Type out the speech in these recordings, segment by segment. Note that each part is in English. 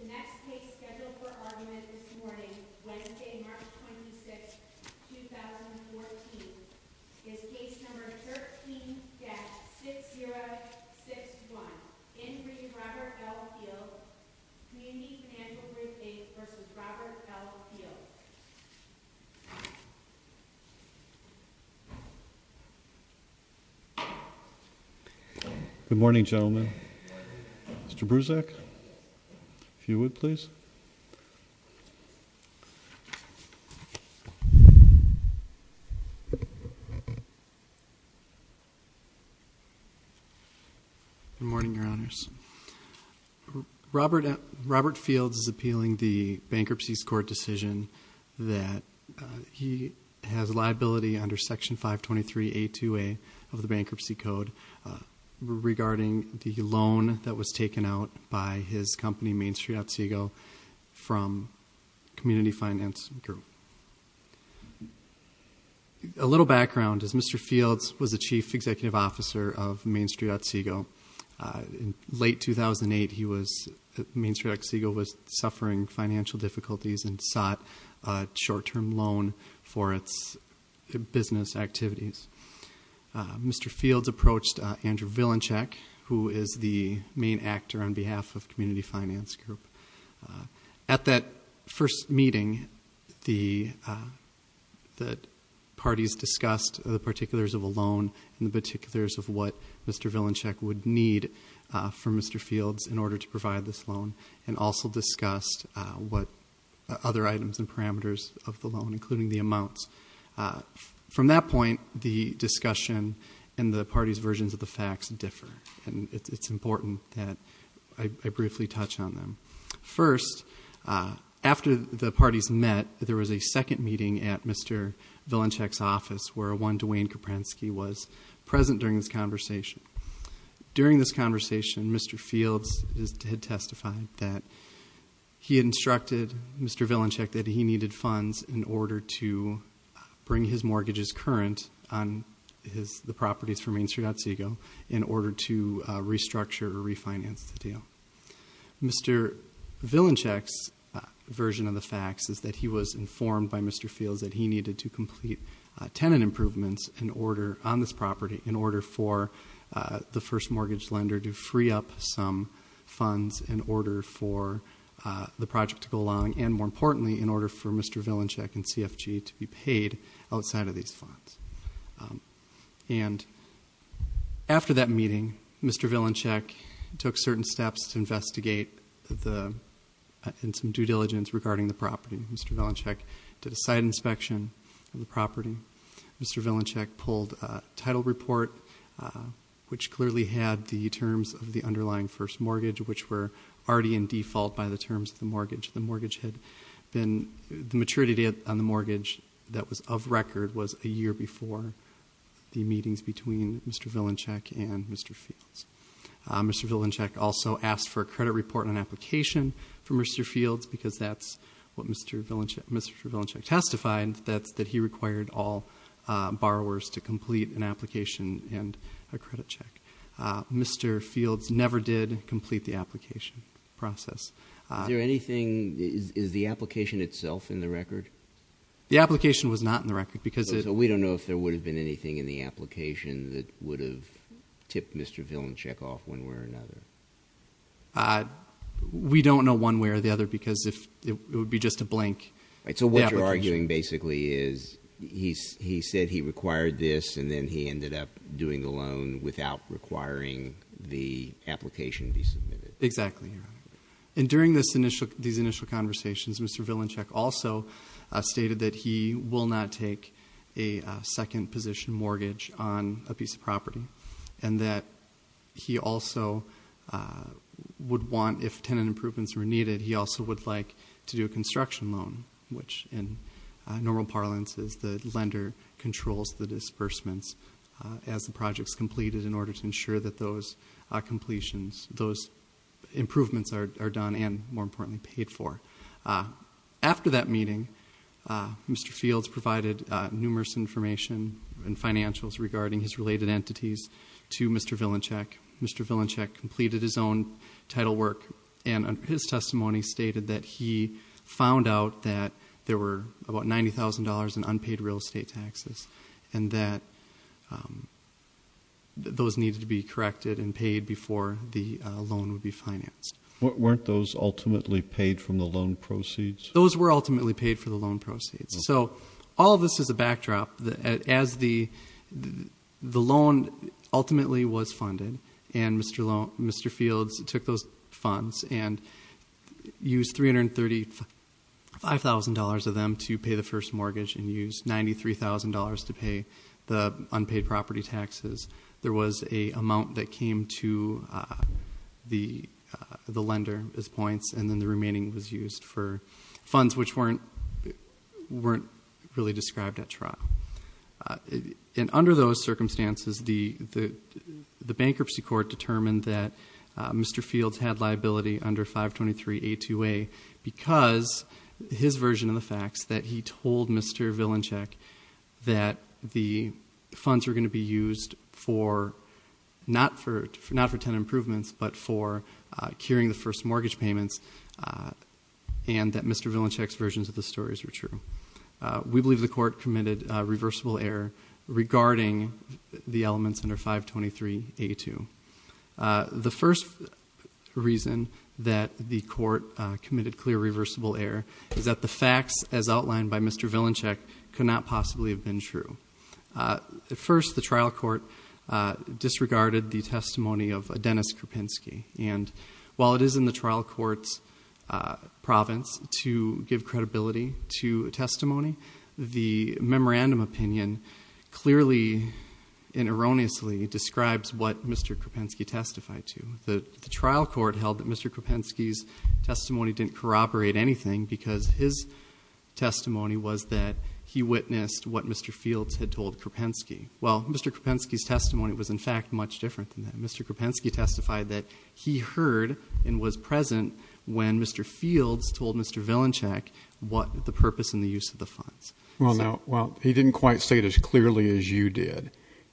The next case scheduled for argument this morning, Wednesday, March 26, 2014, is Case Number 13-6061, Inc. v. Robert L. Fields, Community Financial Group Inc. v. Robert L. Fields Robert Fields, Community Financial Group, Inc. v. Robert L. Fields, Community Financial Group, Inc. v. Robert L. Fields Good morning, gentlemen. Mr. Bruzek, if you would, please. Robert Fields, Community Financial Group, Inc. v. Robert L. Fields Good morning, Your Honors. Robert Fields is appealing the Bankruptcy Court decision that he has a liability under Section 523a-2a of the Bankruptcy Code regarding the loan that was taken out by his company, MainStreetOtsego, from Community Finance Group. A little background. Mr. Fields was the Chief Executive Officer of MainStreetOtsego. In late 2008, MainStreetOtsego was suffering financial difficulties and sought a short-term loan for its business activities. Mr. Fields approached Andrew Vilenchek, who is the main actor on behalf of Community Finance Group. At that first meeting, the parties discussed the particulars of a loan and the particulars of what Mr. Vilenchek would need from Mr. Fields in order to provide this loan and also discussed other items and parameters of the loan, including the amounts. From that point, the discussion and the parties' versions of the facts differ, and it's important that I briefly touch on them. First, after the parties met, there was a second meeting at Mr. Vilenchek's office where a one Dwayne Koprensky was present during this conversation. During this conversation, Mr. Fields had testified that he had instructed Mr. Vilenchek that he needed funds in order to bring his mortgages current on the properties for MainStreetOtsego in order to restructure or refinance the deal. Mr. Vilenchek's version of the facts is that he was informed by Mr. Fields that he needed to complete tenant improvements on this property in order for the first mortgage lender to free up some funds in order for the project to go along and, more importantly, in order for Mr. Vilenchek and CFG to be paid outside of these funds. And after that meeting, Mr. Vilenchek took certain steps to investigate and some due diligence regarding the property. Mr. Vilenchek did a site inspection of the property. Mr. Vilenchek pulled a title report, which clearly had the terms of the underlying first mortgage, which were already in default by the terms of the mortgage. The maturity date on the mortgage that was of record was a year before the meetings between Mr. Vilenchek and Mr. Fields. Mr. Vilenchek also asked for a credit report and an application from Mr. Fields because that's what Mr. Vilenchek testified, that he required all borrowers to complete an application and a credit check. Mr. Fields never did complete the application process. Is there anythingóis the application itself in the record? The application was not in the record becauseó So we don't know if there would have been anything in the application that would have tipped Mr. Vilenchek off one way or another. We don't know one way or the other because it would be just a blank application. So what you're arguing basically is he said he required this and then he ended up doing the loan without requiring the application be submitted. Exactly. And during these initial conversations, Mr. Vilenchek also stated that he will not take a second position mortgage on a piece of property and that he also would want, if tenant improvements were needed, he also would like to do a construction loan, which in normal parlance is the lender controls the disbursements as the project's completed in order to ensure that those completionsóthose improvements are done and, more importantly, paid for. After that meeting, Mr. Fields provided numerous information and financials regarding his related entities to Mr. Vilenchek. Mr. Vilenchek completed his own title work and his testimony stated that he found out that there were about $90,000 in unpaid real estate taxes and that those needed to be corrected and paid before the loan would be financed. Weren't those ultimately paid from the loan proceeds? Those were ultimately paid from the loan proceeds. So all this is a backdrop. As the loan ultimately was funded and Mr. Fields took those funds and used $335,000 of them to pay the first mortgage and used $93,000 to pay the unpaid property taxes, there was an amount that came to the lender as points and then the remaining was used for funds which weren't really described at trial. Under those circumstances, the bankruptcy court determined that Mr. Fields had liability under 523A2A because his version of the facts that he told Mr. Vilenchek that the funds were going to be used not for tenant improvements but for curing the first mortgage payments and that Mr. Vilenchek's versions of the stories were true. We believe the court committed a reversible error regarding the elements under 523A2. The first reason that the court committed clear reversible error is that the facts as outlined by Mr. Vilenchek could not possibly have been true. At first, the trial court disregarded the testimony of Dennis Krupinski and while it is in the trial court's province to give credibility to testimony, the memorandum opinion clearly and erroneously describes what Mr. Krupinski testified to. The trial court held that Mr. Krupinski's testimony didn't corroborate anything because his testimony was that he witnessed what Mr. Fields had told Krupinski. Well, Mr. Krupinski's testimony was in fact much different than that. Mr. Krupinski testified that he heard and was present when Mr. Fields told Mr. Vilenchek what the purpose and the use of the funds. Well, he didn't quite say it as clearly as you did.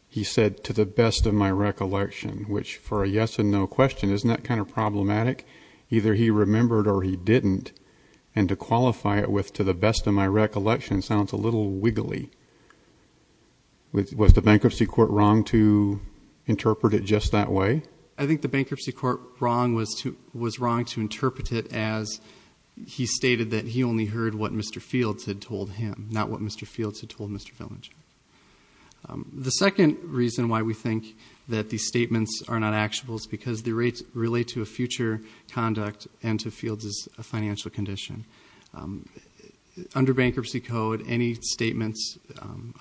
He said, to the best of my recollection, which for a yes and no question, isn't that kind of problematic? Either he remembered or he didn't, and to qualify it with to the best of my recollection sounds a little wiggly. Was the bankruptcy court wrong to interpret it just that way? I think the bankruptcy court was wrong to interpret it as he stated that he only heard what Mr. Fields had told him, not what Mr. Fields had told Mr. Vilenchek. The second reason why we think that these statements are not actionable is because they relate to a future conduct and to Fields' financial condition. Under Bankruptcy Code, any statements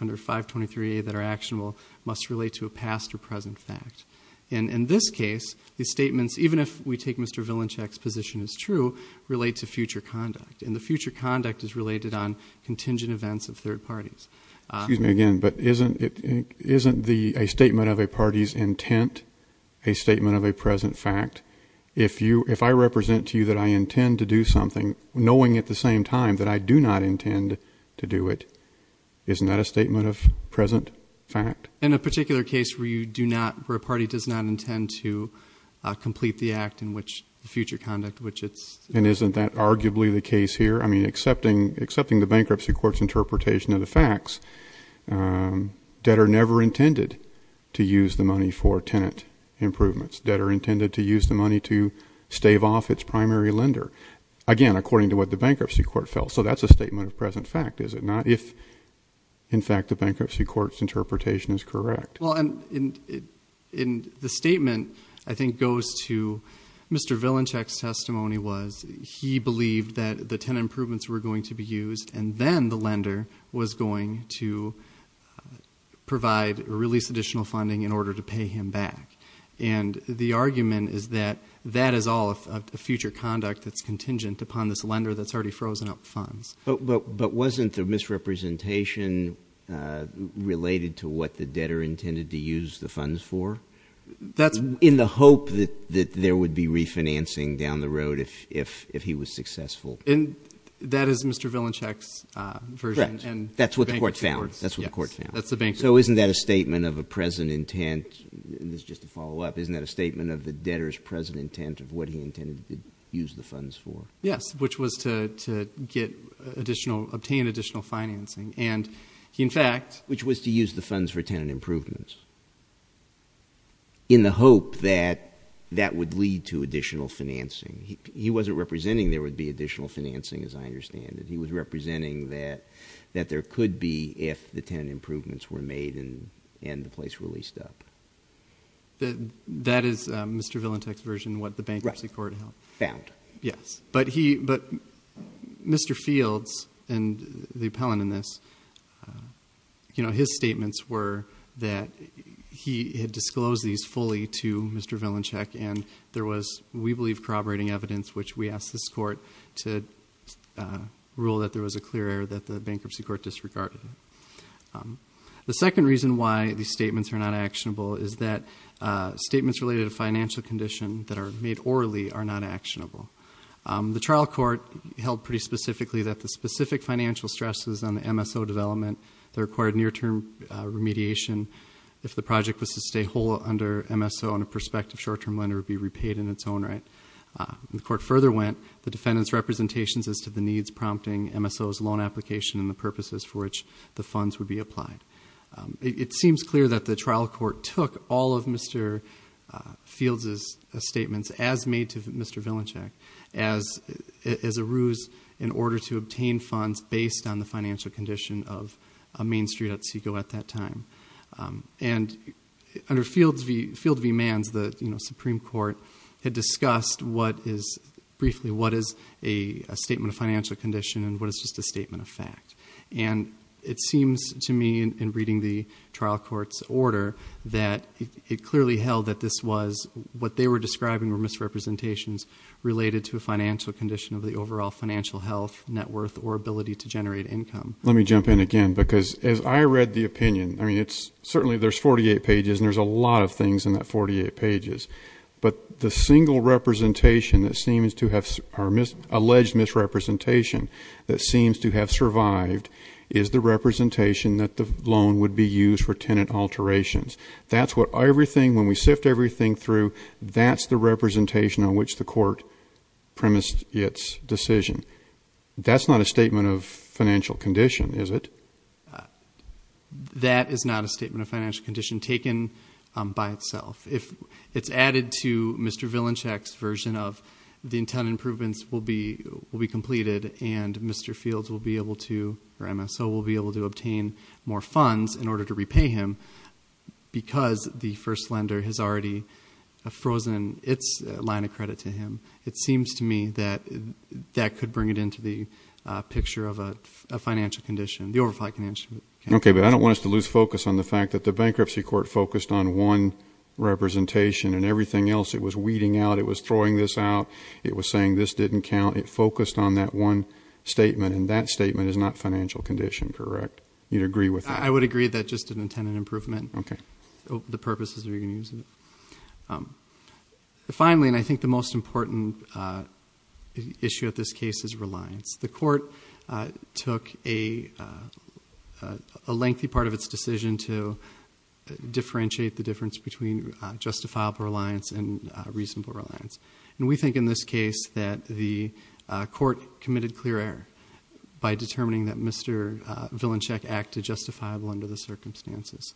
under 523A that are actionable must relate to a past or present fact. In this case, the statements, even if we take Mr. Vilenchek's position as true, relate to future conduct, and the future conduct is related on contingent events of third parties. Excuse me again, but isn't a statement of a party's intent a statement of a present fact? If I represent to you that I intend to do something, knowing at the same time that I do not intend to do it, isn't that a statement of present fact? In a particular case where you do not, where a party does not intend to complete the act in which future conduct, which it's- And isn't that arguably the case here? I mean, accepting the bankruptcy court's interpretation of the facts, debtor never intended to use the money for tenant improvements. Debtor intended to use the money to stave off its primary lender, again, according to what the bankruptcy court felt. So that's a statement of present fact, is it not? If, in fact, the bankruptcy court's interpretation is correct. Well, and the statement, I think, goes to Mr. Vilenchek's testimony was he believed that the tenant improvements were going to be used, and then the lender was going to provide or release additional funding in order to pay him back. And the argument is that that is all a future conduct that's contingent upon this lender that's already frozen up funds. But wasn't the misrepresentation related to what the debtor intended to use the funds for? That's- In the hope that there would be refinancing down the road if he was successful. And that is Mr. Vilenchek's version. Correct. And that's what the court found. That's what the court found. That's the bankruptcy court's- So isn't that a statement of a present intent? And this is just a follow-up. Isn't that a statement of the debtor's present intent of what he intended to use the funds for? Yes, which was to obtain additional financing. And he, in fact- Which was to use the funds for tenant improvements in the hope that that would lead to additional financing. He wasn't representing there would be additional financing, as I understand it. He was representing that there could be if the tenant improvements were made and the place were leased up. That is Mr. Vilenchek's version, what the bankruptcy court held. Found. Yes. But he- But Mr. Fields and the appellant in this, you know, his statements were that he had disclosed these fully to Mr. Vilenchek. And there was, we believe, corroborating evidence, which we asked this court to rule that there was a clear error that the bankruptcy court disregarded. The second reason why these statements are not actionable is that statements related to financial condition that are made orally are not actionable. The trial court held pretty specifically that the specific financial stresses on the MSO development that required near-term remediation, if the project was to stay whole under MSO and a prospective short-term lender would be repaid in its own right. The court further went, the defendant's representations as to the needs prompting MSO's loan application and the purposes for which the funds would be applied. It seems clear that the trial court took all of Mr. Fields' statements as made to Mr. Vilenchek as a ruse in order to obtain funds based on the financial condition of Main Street Otsego at that time. And under Field v. Manns, the, you know, Supreme Court had discussed what is, briefly, what is a statement of financial condition and what is just a statement of fact. And it seems to me in reading the trial court's order that it clearly held that this was, what they were describing were misrepresentations related to a financial condition of the overall financial health, net worth, or ability to generate income. Let me jump in again, because as I read the opinion, I mean, it's, certainly there's 48 pages and there's a lot of things in that 48 pages. But the single representation that seems to have, or alleged misrepresentation that seems to have survived, is the representation that the loan would be used for tenant alterations. That's what everything, when we sift everything through, that's the representation on which the court premised its decision. That's not a statement of financial condition, is it? That is not a statement of financial condition taken by itself. If it's added to Mr. Vilenchak's version of the tenant improvements will be completed and Mr. Fields will be able to, or MSO, will be able to obtain more funds in order to repay him because the first lender has already frozen its line of credit to him. It seems to me that that could bring it into the picture of a financial condition, the overflight condition. Okay, but I don't want us to lose focus on the fact that the bankruptcy court focused on one representation and everything else it was weeding out, it was throwing this out, it was saying this didn't count. It focused on that one statement, and that statement is not financial condition, correct? You'd agree with that? I would agree that just in the tenant improvement. Okay. The purpose is we can use it. Finally, and I think the most important issue at this case is reliance. The court took a lengthy part of its decision to differentiate the difference between justifiable reliance and reasonable reliance. And we think in this case that the court committed clear error by determining that Mr. Vilenchak acted justifiable under the circumstances.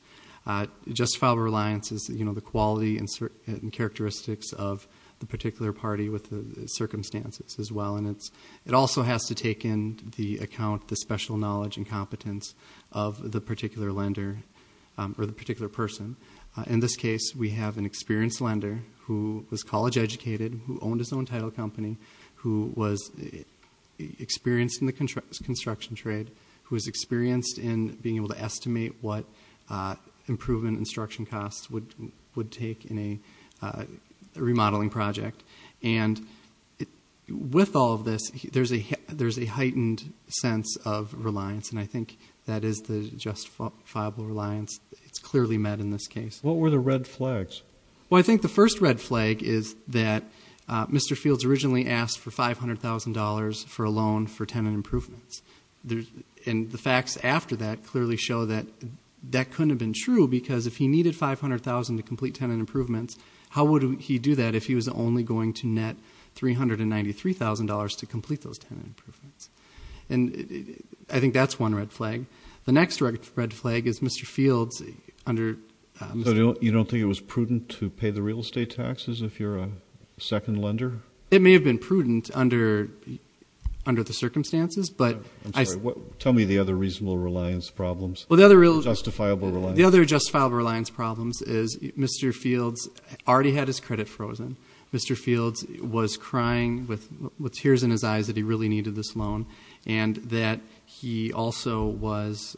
Justifiable reliance is the quality and characteristics of the particular party with the circumstances as well, and it also has to take into account the special knowledge and competence of the particular lender or the particular person. In this case, we have an experienced lender who was college educated, who owned his own title company, who was experienced in the construction trade, who was experienced in being able to estimate what improvement instruction costs would take in a remodeling project. And with all of this, there's a heightened sense of reliance, and I think that is the justifiable reliance. It's clearly met in this case. What were the red flags? Well, I think the first red flag is that Mr. Fields originally asked for $500,000 for a loan for tenant improvements. And the facts after that clearly show that that couldn't have been true because if he needed $500,000 to complete tenant improvements, how would he do that if he was only going to net $393,000 to complete those tenant improvements? And I think that's one red flag. You don't think it was prudent to pay the real estate taxes if you're a second lender? It may have been prudent under the circumstances. I'm sorry, tell me the other reasonable reliance problems, justifiable reliance. The other justifiable reliance problems is Mr. Fields already had his credit frozen. Mr. Fields was crying with tears in his eyes that he really needed this loan and that he also was,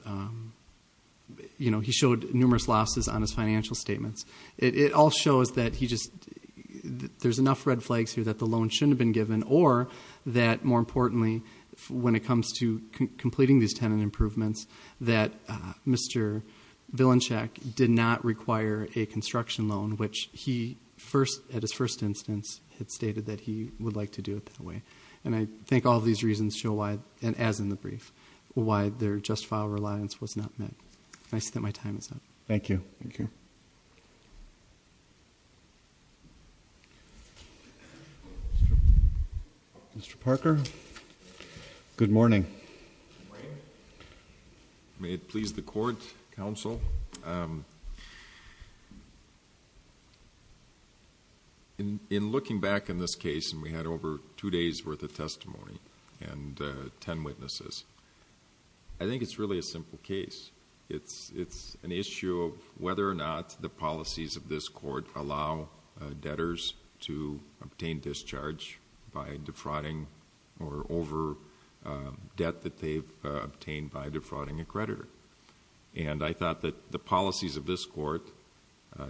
you know, he showed numerous losses on his financial statements. It all shows that he just, there's enough red flags here that the loan shouldn't have been given or that, more importantly, when it comes to completing these tenant improvements, that Mr. Vilancak did not require a construction loan, which he at his first instance had stated that he would like to do it that way. And I think all these reasons show why, and as in the brief, why their justifiable reliance was not met. And I see that my time is up. Thank you. Thank you. Mr. Parker. Good morning. Good morning. May it please the Court, Counsel. Thank you. In looking back in this case, and we had over two days' worth of testimony and ten witnesses, I think it's really a simple case. It's an issue of whether or not the policies of this court allow debtors to obtain discharge by defrauding or over debt that they've obtained by defrauding a creditor. And I thought that the policies of this court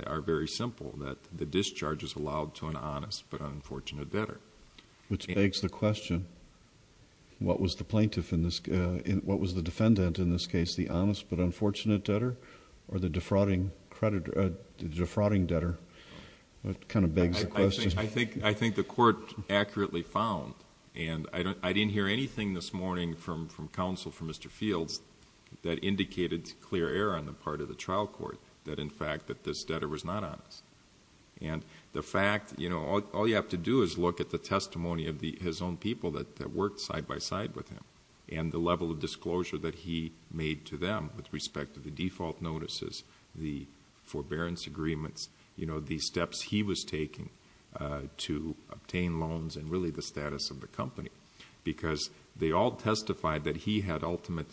are very simple, that the discharge is allowed to an honest but unfortunate debtor. Which begs the question, what was the plaintiff in this... what was the defendant in this case, the honest but unfortunate debtor or the defrauding creditor... defrauding debtor? That kind of begs the question. I think the court accurately found, and I didn't hear anything this morning from counsel for Mr. Fields that indicated clear error on the part of the trial court that in fact that this debtor was not honest. And the fact... all you have to do is look at the testimony of his own people that worked side by side with him and the level of disclosure that he made to them with respect to the default notices, the forbearance agreements, the steps he was taking to obtain loans and really the status of the company. Because they all testified that he had ultimate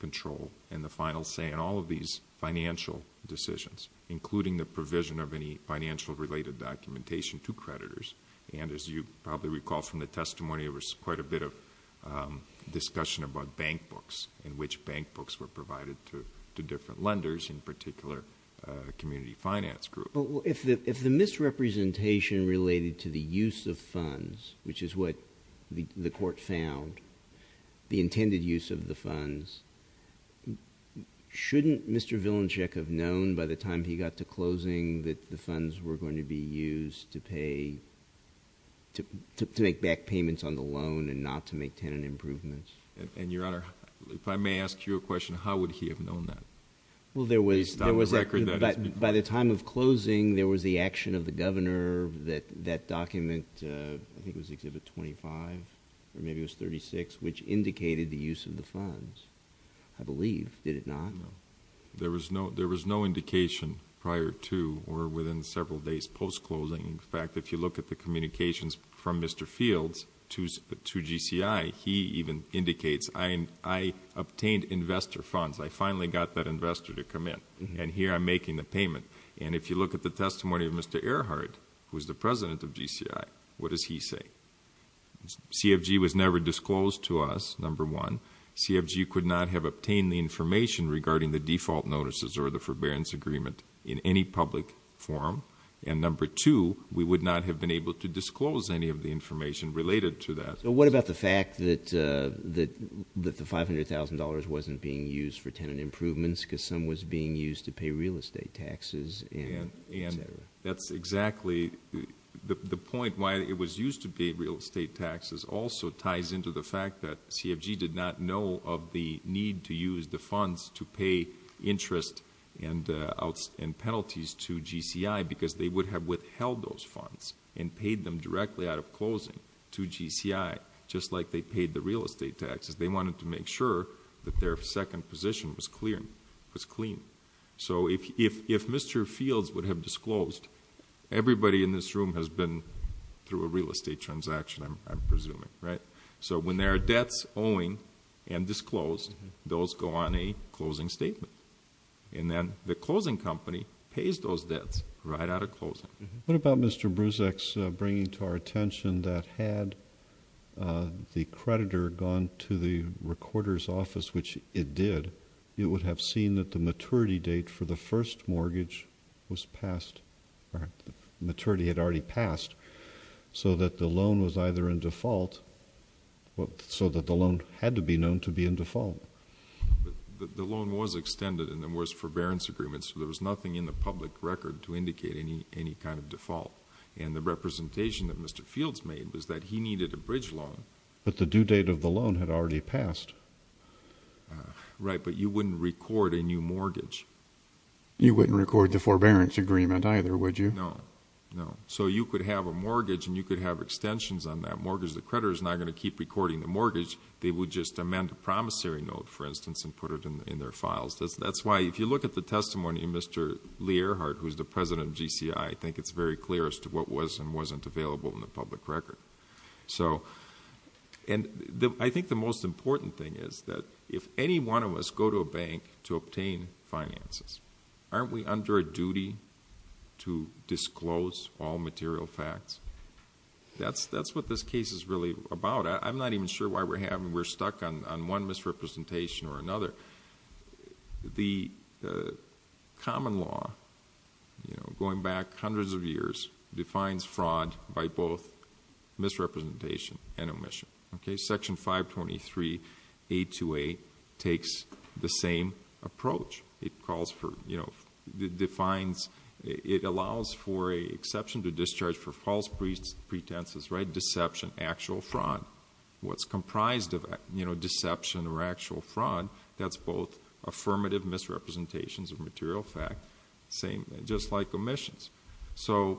control in the final say in all of these financial decisions, including the provision of any financial related documentation to creditors. And as you probably recall from the testimony, there was quite a bit of discussion about bank books and which bank books were provided to different lenders, in particular community finance groups. If the misrepresentation related to the use of funds, which is what the court found, the intended use of the funds, shouldn't Mr. Vilenchek have known by the time he got to closing that the funds were going to be used to pay... to make back payments on the loan and not to make tenant improvements? And, Your Honor, if I may ask you a question, how would he have known that? Well, there was... At least on the record that... By the time of closing, there was the action of the governor that document, I think it was Exhibit 25, or maybe it was 36, which indicated the use of the funds, I believe, did it not? No. There was no indication prior to or within several days post-closing. In fact, if you look at the communications from Mr. Fields to GCI, he even indicates, I obtained investor funds. I finally got that investor to come in, and here I'm making the payment. And if you look at the testimony of Mr. Earhart, who is the president of GCI, what does he say? CFG was never disclosed to us, number one. CFG could not have obtained the information regarding the default notices or the forbearance agreement in any public forum. And number two, we would not have been able to disclose any of the information related to that. What about the fact that the $500,000 wasn't being used for tenant improvements because some was being used to pay real estate taxes and et cetera? That's exactly the point. Why it was used to pay real estate taxes also ties into the fact that CFG did not know of the need to use the funds to pay interest and penalties to GCI because they would have withheld those funds and paid them directly out of closing to GCI, just like they paid the real estate taxes. They wanted to make sure that their second position was clean. So if Mr. Fields would have disclosed, everybody in this room has been through a real estate transaction, I'm presuming. So when there are debts owing and disclosed, those go on a closing statement. And then the closing company pays those debts right out of closing. What about Mr. Bruzek's bringing to our attention that had the creditor gone to the recorder's office, which it did, it would have seen that the maturity date for the first mortgage was passed or maturity had already passed so that the loan was either in default so that the loan had to be known to be in default? The loan was extended and there was forbearance agreements, so there was nothing in the public record to indicate any kind of default. And the representation that Mr. Fields made was that he needed a bridge loan. But the due date of the loan had already passed. Right, but you wouldn't record a new mortgage. You wouldn't record the forbearance agreement either, would you? No, no. So you could have a mortgage and you could have extensions on that mortgage. The creditor is not going to keep recording the mortgage. They would just amend a promissory note, for instance, and put it in their files. That's why if you look at the testimony of Mr. Learhart, who's the president of GCI, I think it's very clear as to what was and wasn't available in the public record. I think the most important thing is that if any one of us go to a bank to obtain finances, aren't we under a duty to disclose all material facts? That's what this case is really about. I'm not even sure why we're stuck on one misrepresentation or another. The common law, going back hundreds of years, defines fraud by both misrepresentation and omission. Section 523A28 takes the same approach. It allows for an exception to discharge for false pretenses, deception, actual fraud. What's comprised of deception or actual fraud, that's both affirmative misrepresentations of material facts, just like omissions. So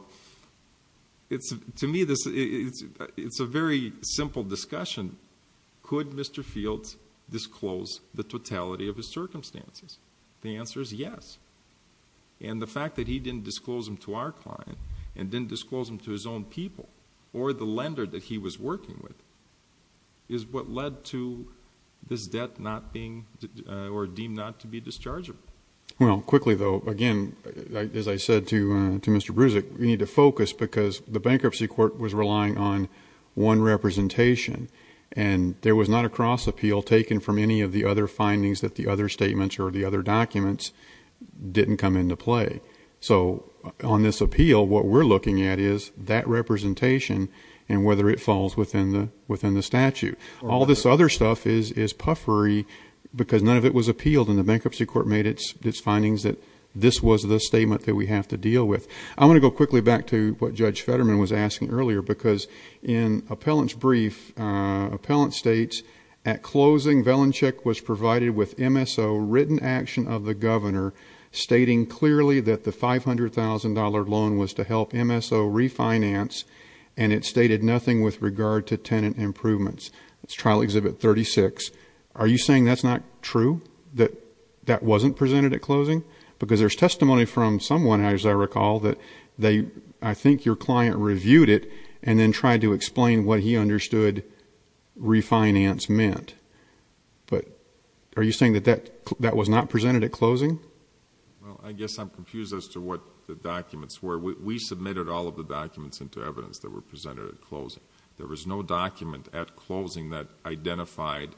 to me, it's a very simple discussion. Could Mr. Fields disclose the totality of his circumstances? The answer is yes. And the fact that he didn't disclose them to our client and didn't disclose them to his own people or the lender that he was working with is what led to this debt deemed not to be dischargeable. Well, quickly though, again, as I said to Mr. Bruzek, you need to focus because the bankruptcy court was relying on one representation, and there was not a cross appeal taken from any of the other findings that the other statements or the other documents didn't come into play. So on this appeal, what we're looking at is that representation and whether it falls within the statute. All this other stuff is puffery because none of it was appealed, and the bankruptcy court made its findings that this was the statement that we have to deal with. I'm going to go quickly back to what Judge Fetterman was asking earlier because in appellant's brief, appellant states, at closing, Velenchik was provided with MSO, written action of the governor, stating clearly that the $500,000 loan was to help MSO refinance, and it stated nothing with regard to tenant improvements. That's Trial Exhibit 36. Are you saying that's not true, that that wasn't presented at closing? Because there's testimony from someone, as I recall, that I think your client reviewed it and then tried to explain what he understood refinance meant. But are you saying that that was not presented at closing? Well, I guess I'm confused as to what the documents were. We submitted all of the documents into evidence that were presented at closing. There was no document at closing that identified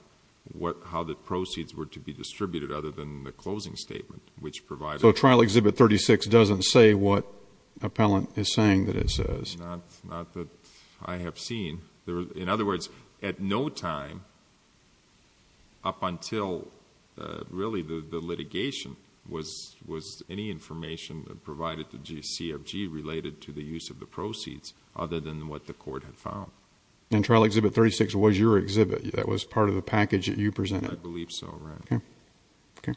how the proceeds were to be distributed other than the closing statement, which provided... So Trial Exhibit 36 doesn't say what appellant is saying that it says? Not that I have seen. In other words, at no time up until really the litigation was any information provided to GCFG related to the use of the proceeds other than what the court had found. And Trial Exhibit 36 was your exhibit? That was part of the package that you presented? I believe so, Your Honor. Okay.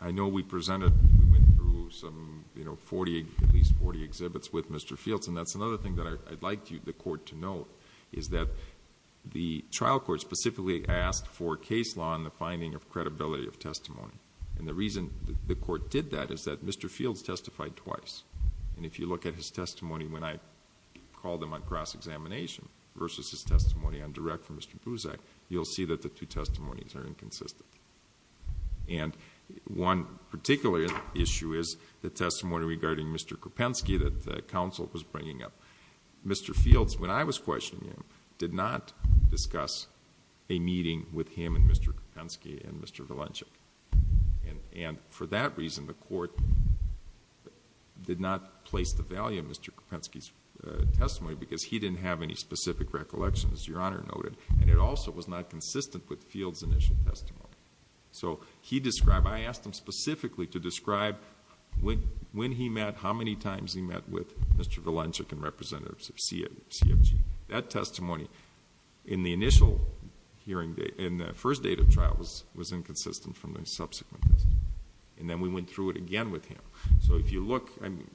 I know we presented... we went through at least forty exhibits with Mr. Fields and that's another thing that I'd like the court to note, is that the trial court specifically asked for case law and the finding of credibility of testimony. And the reason the court did that is that Mr. Fields testified twice. And if you look at his testimony when I called him on cross-examination versus his testimony on direct from Mr. Buzak, you'll see that the two testimonies are inconsistent. And one particular issue is the testimony regarding Mr. Kropensky that the counsel was bringing up. Mr. Fields, when I was questioning him, did not discuss a meeting with him and Mr. Kropensky and Mr. Valenchik. And for that reason, the court did not place the value of Mr. Kropensky's testimony because he didn't have any specific recollections, Your Honor noted, and it also was not consistent with Fields' initial testimony. So he described... I asked him specifically to describe when he met, how many times he met with Mr. Valenchik and representatives of CFG. That testimony in the initial hearing... in the first date of trial was inconsistent from the subsequent ones. And then we went through it again with him. So if you look...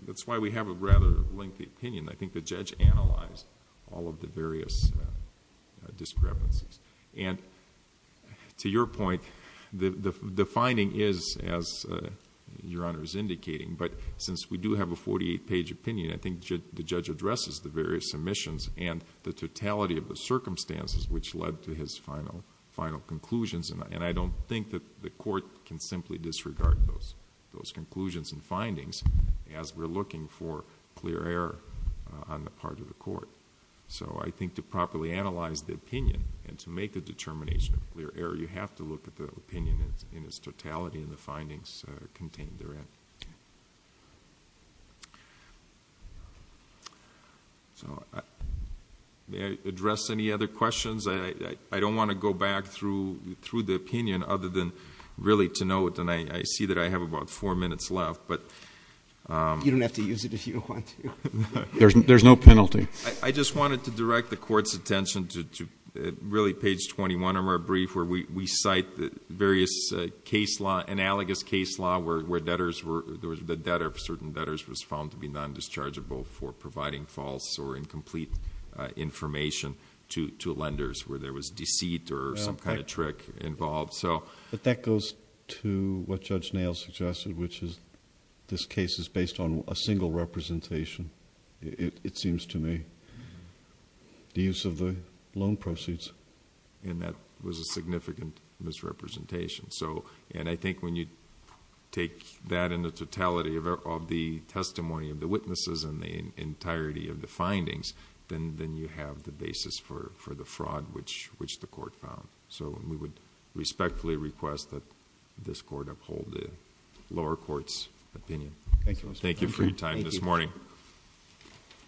that's why we have a rather lengthy opinion. I think the judge analyzed all of the various discrepancies. And to your point, the finding is, as Your Honor is indicating, but since we do have a forty-eight page opinion, I think the judge addresses the various omissions and the totality of the circumstances which led to his final conclusions. And I don't think that the court can simply disregard those conclusions and findings as we're looking for clear error on the part of the court. So I think to properly analyze the opinion and to make a determination of clear error, you have to look at the opinion in its totality and the findings contained therein. May I address any other questions? I don't want to go back through the opinion other than really to note... And I see that I have about four minutes left, but... You don't have to use it if you want to. There's no penalty. I just wanted to direct the Court's attention to really page 21 of our brief where we cite the various analogous case law where the debtor of certain debtors was found to be non-dischargeable for providing false or incomplete information to lenders where there was deceit or some kind of trick involved. But that goes to what Judge Nail suggested, which is this case is based on a single representation, it seems to me, the use of the loan proceeds. And that was a significant misrepresentation. And I think when you take that in the totality of the testimony of the witnesses and the entirety of the findings, then you have the basis for the fraud which the court found. So we would respectfully request that this Court uphold the lower court's opinion. Thank you for your time this morning. Thank you.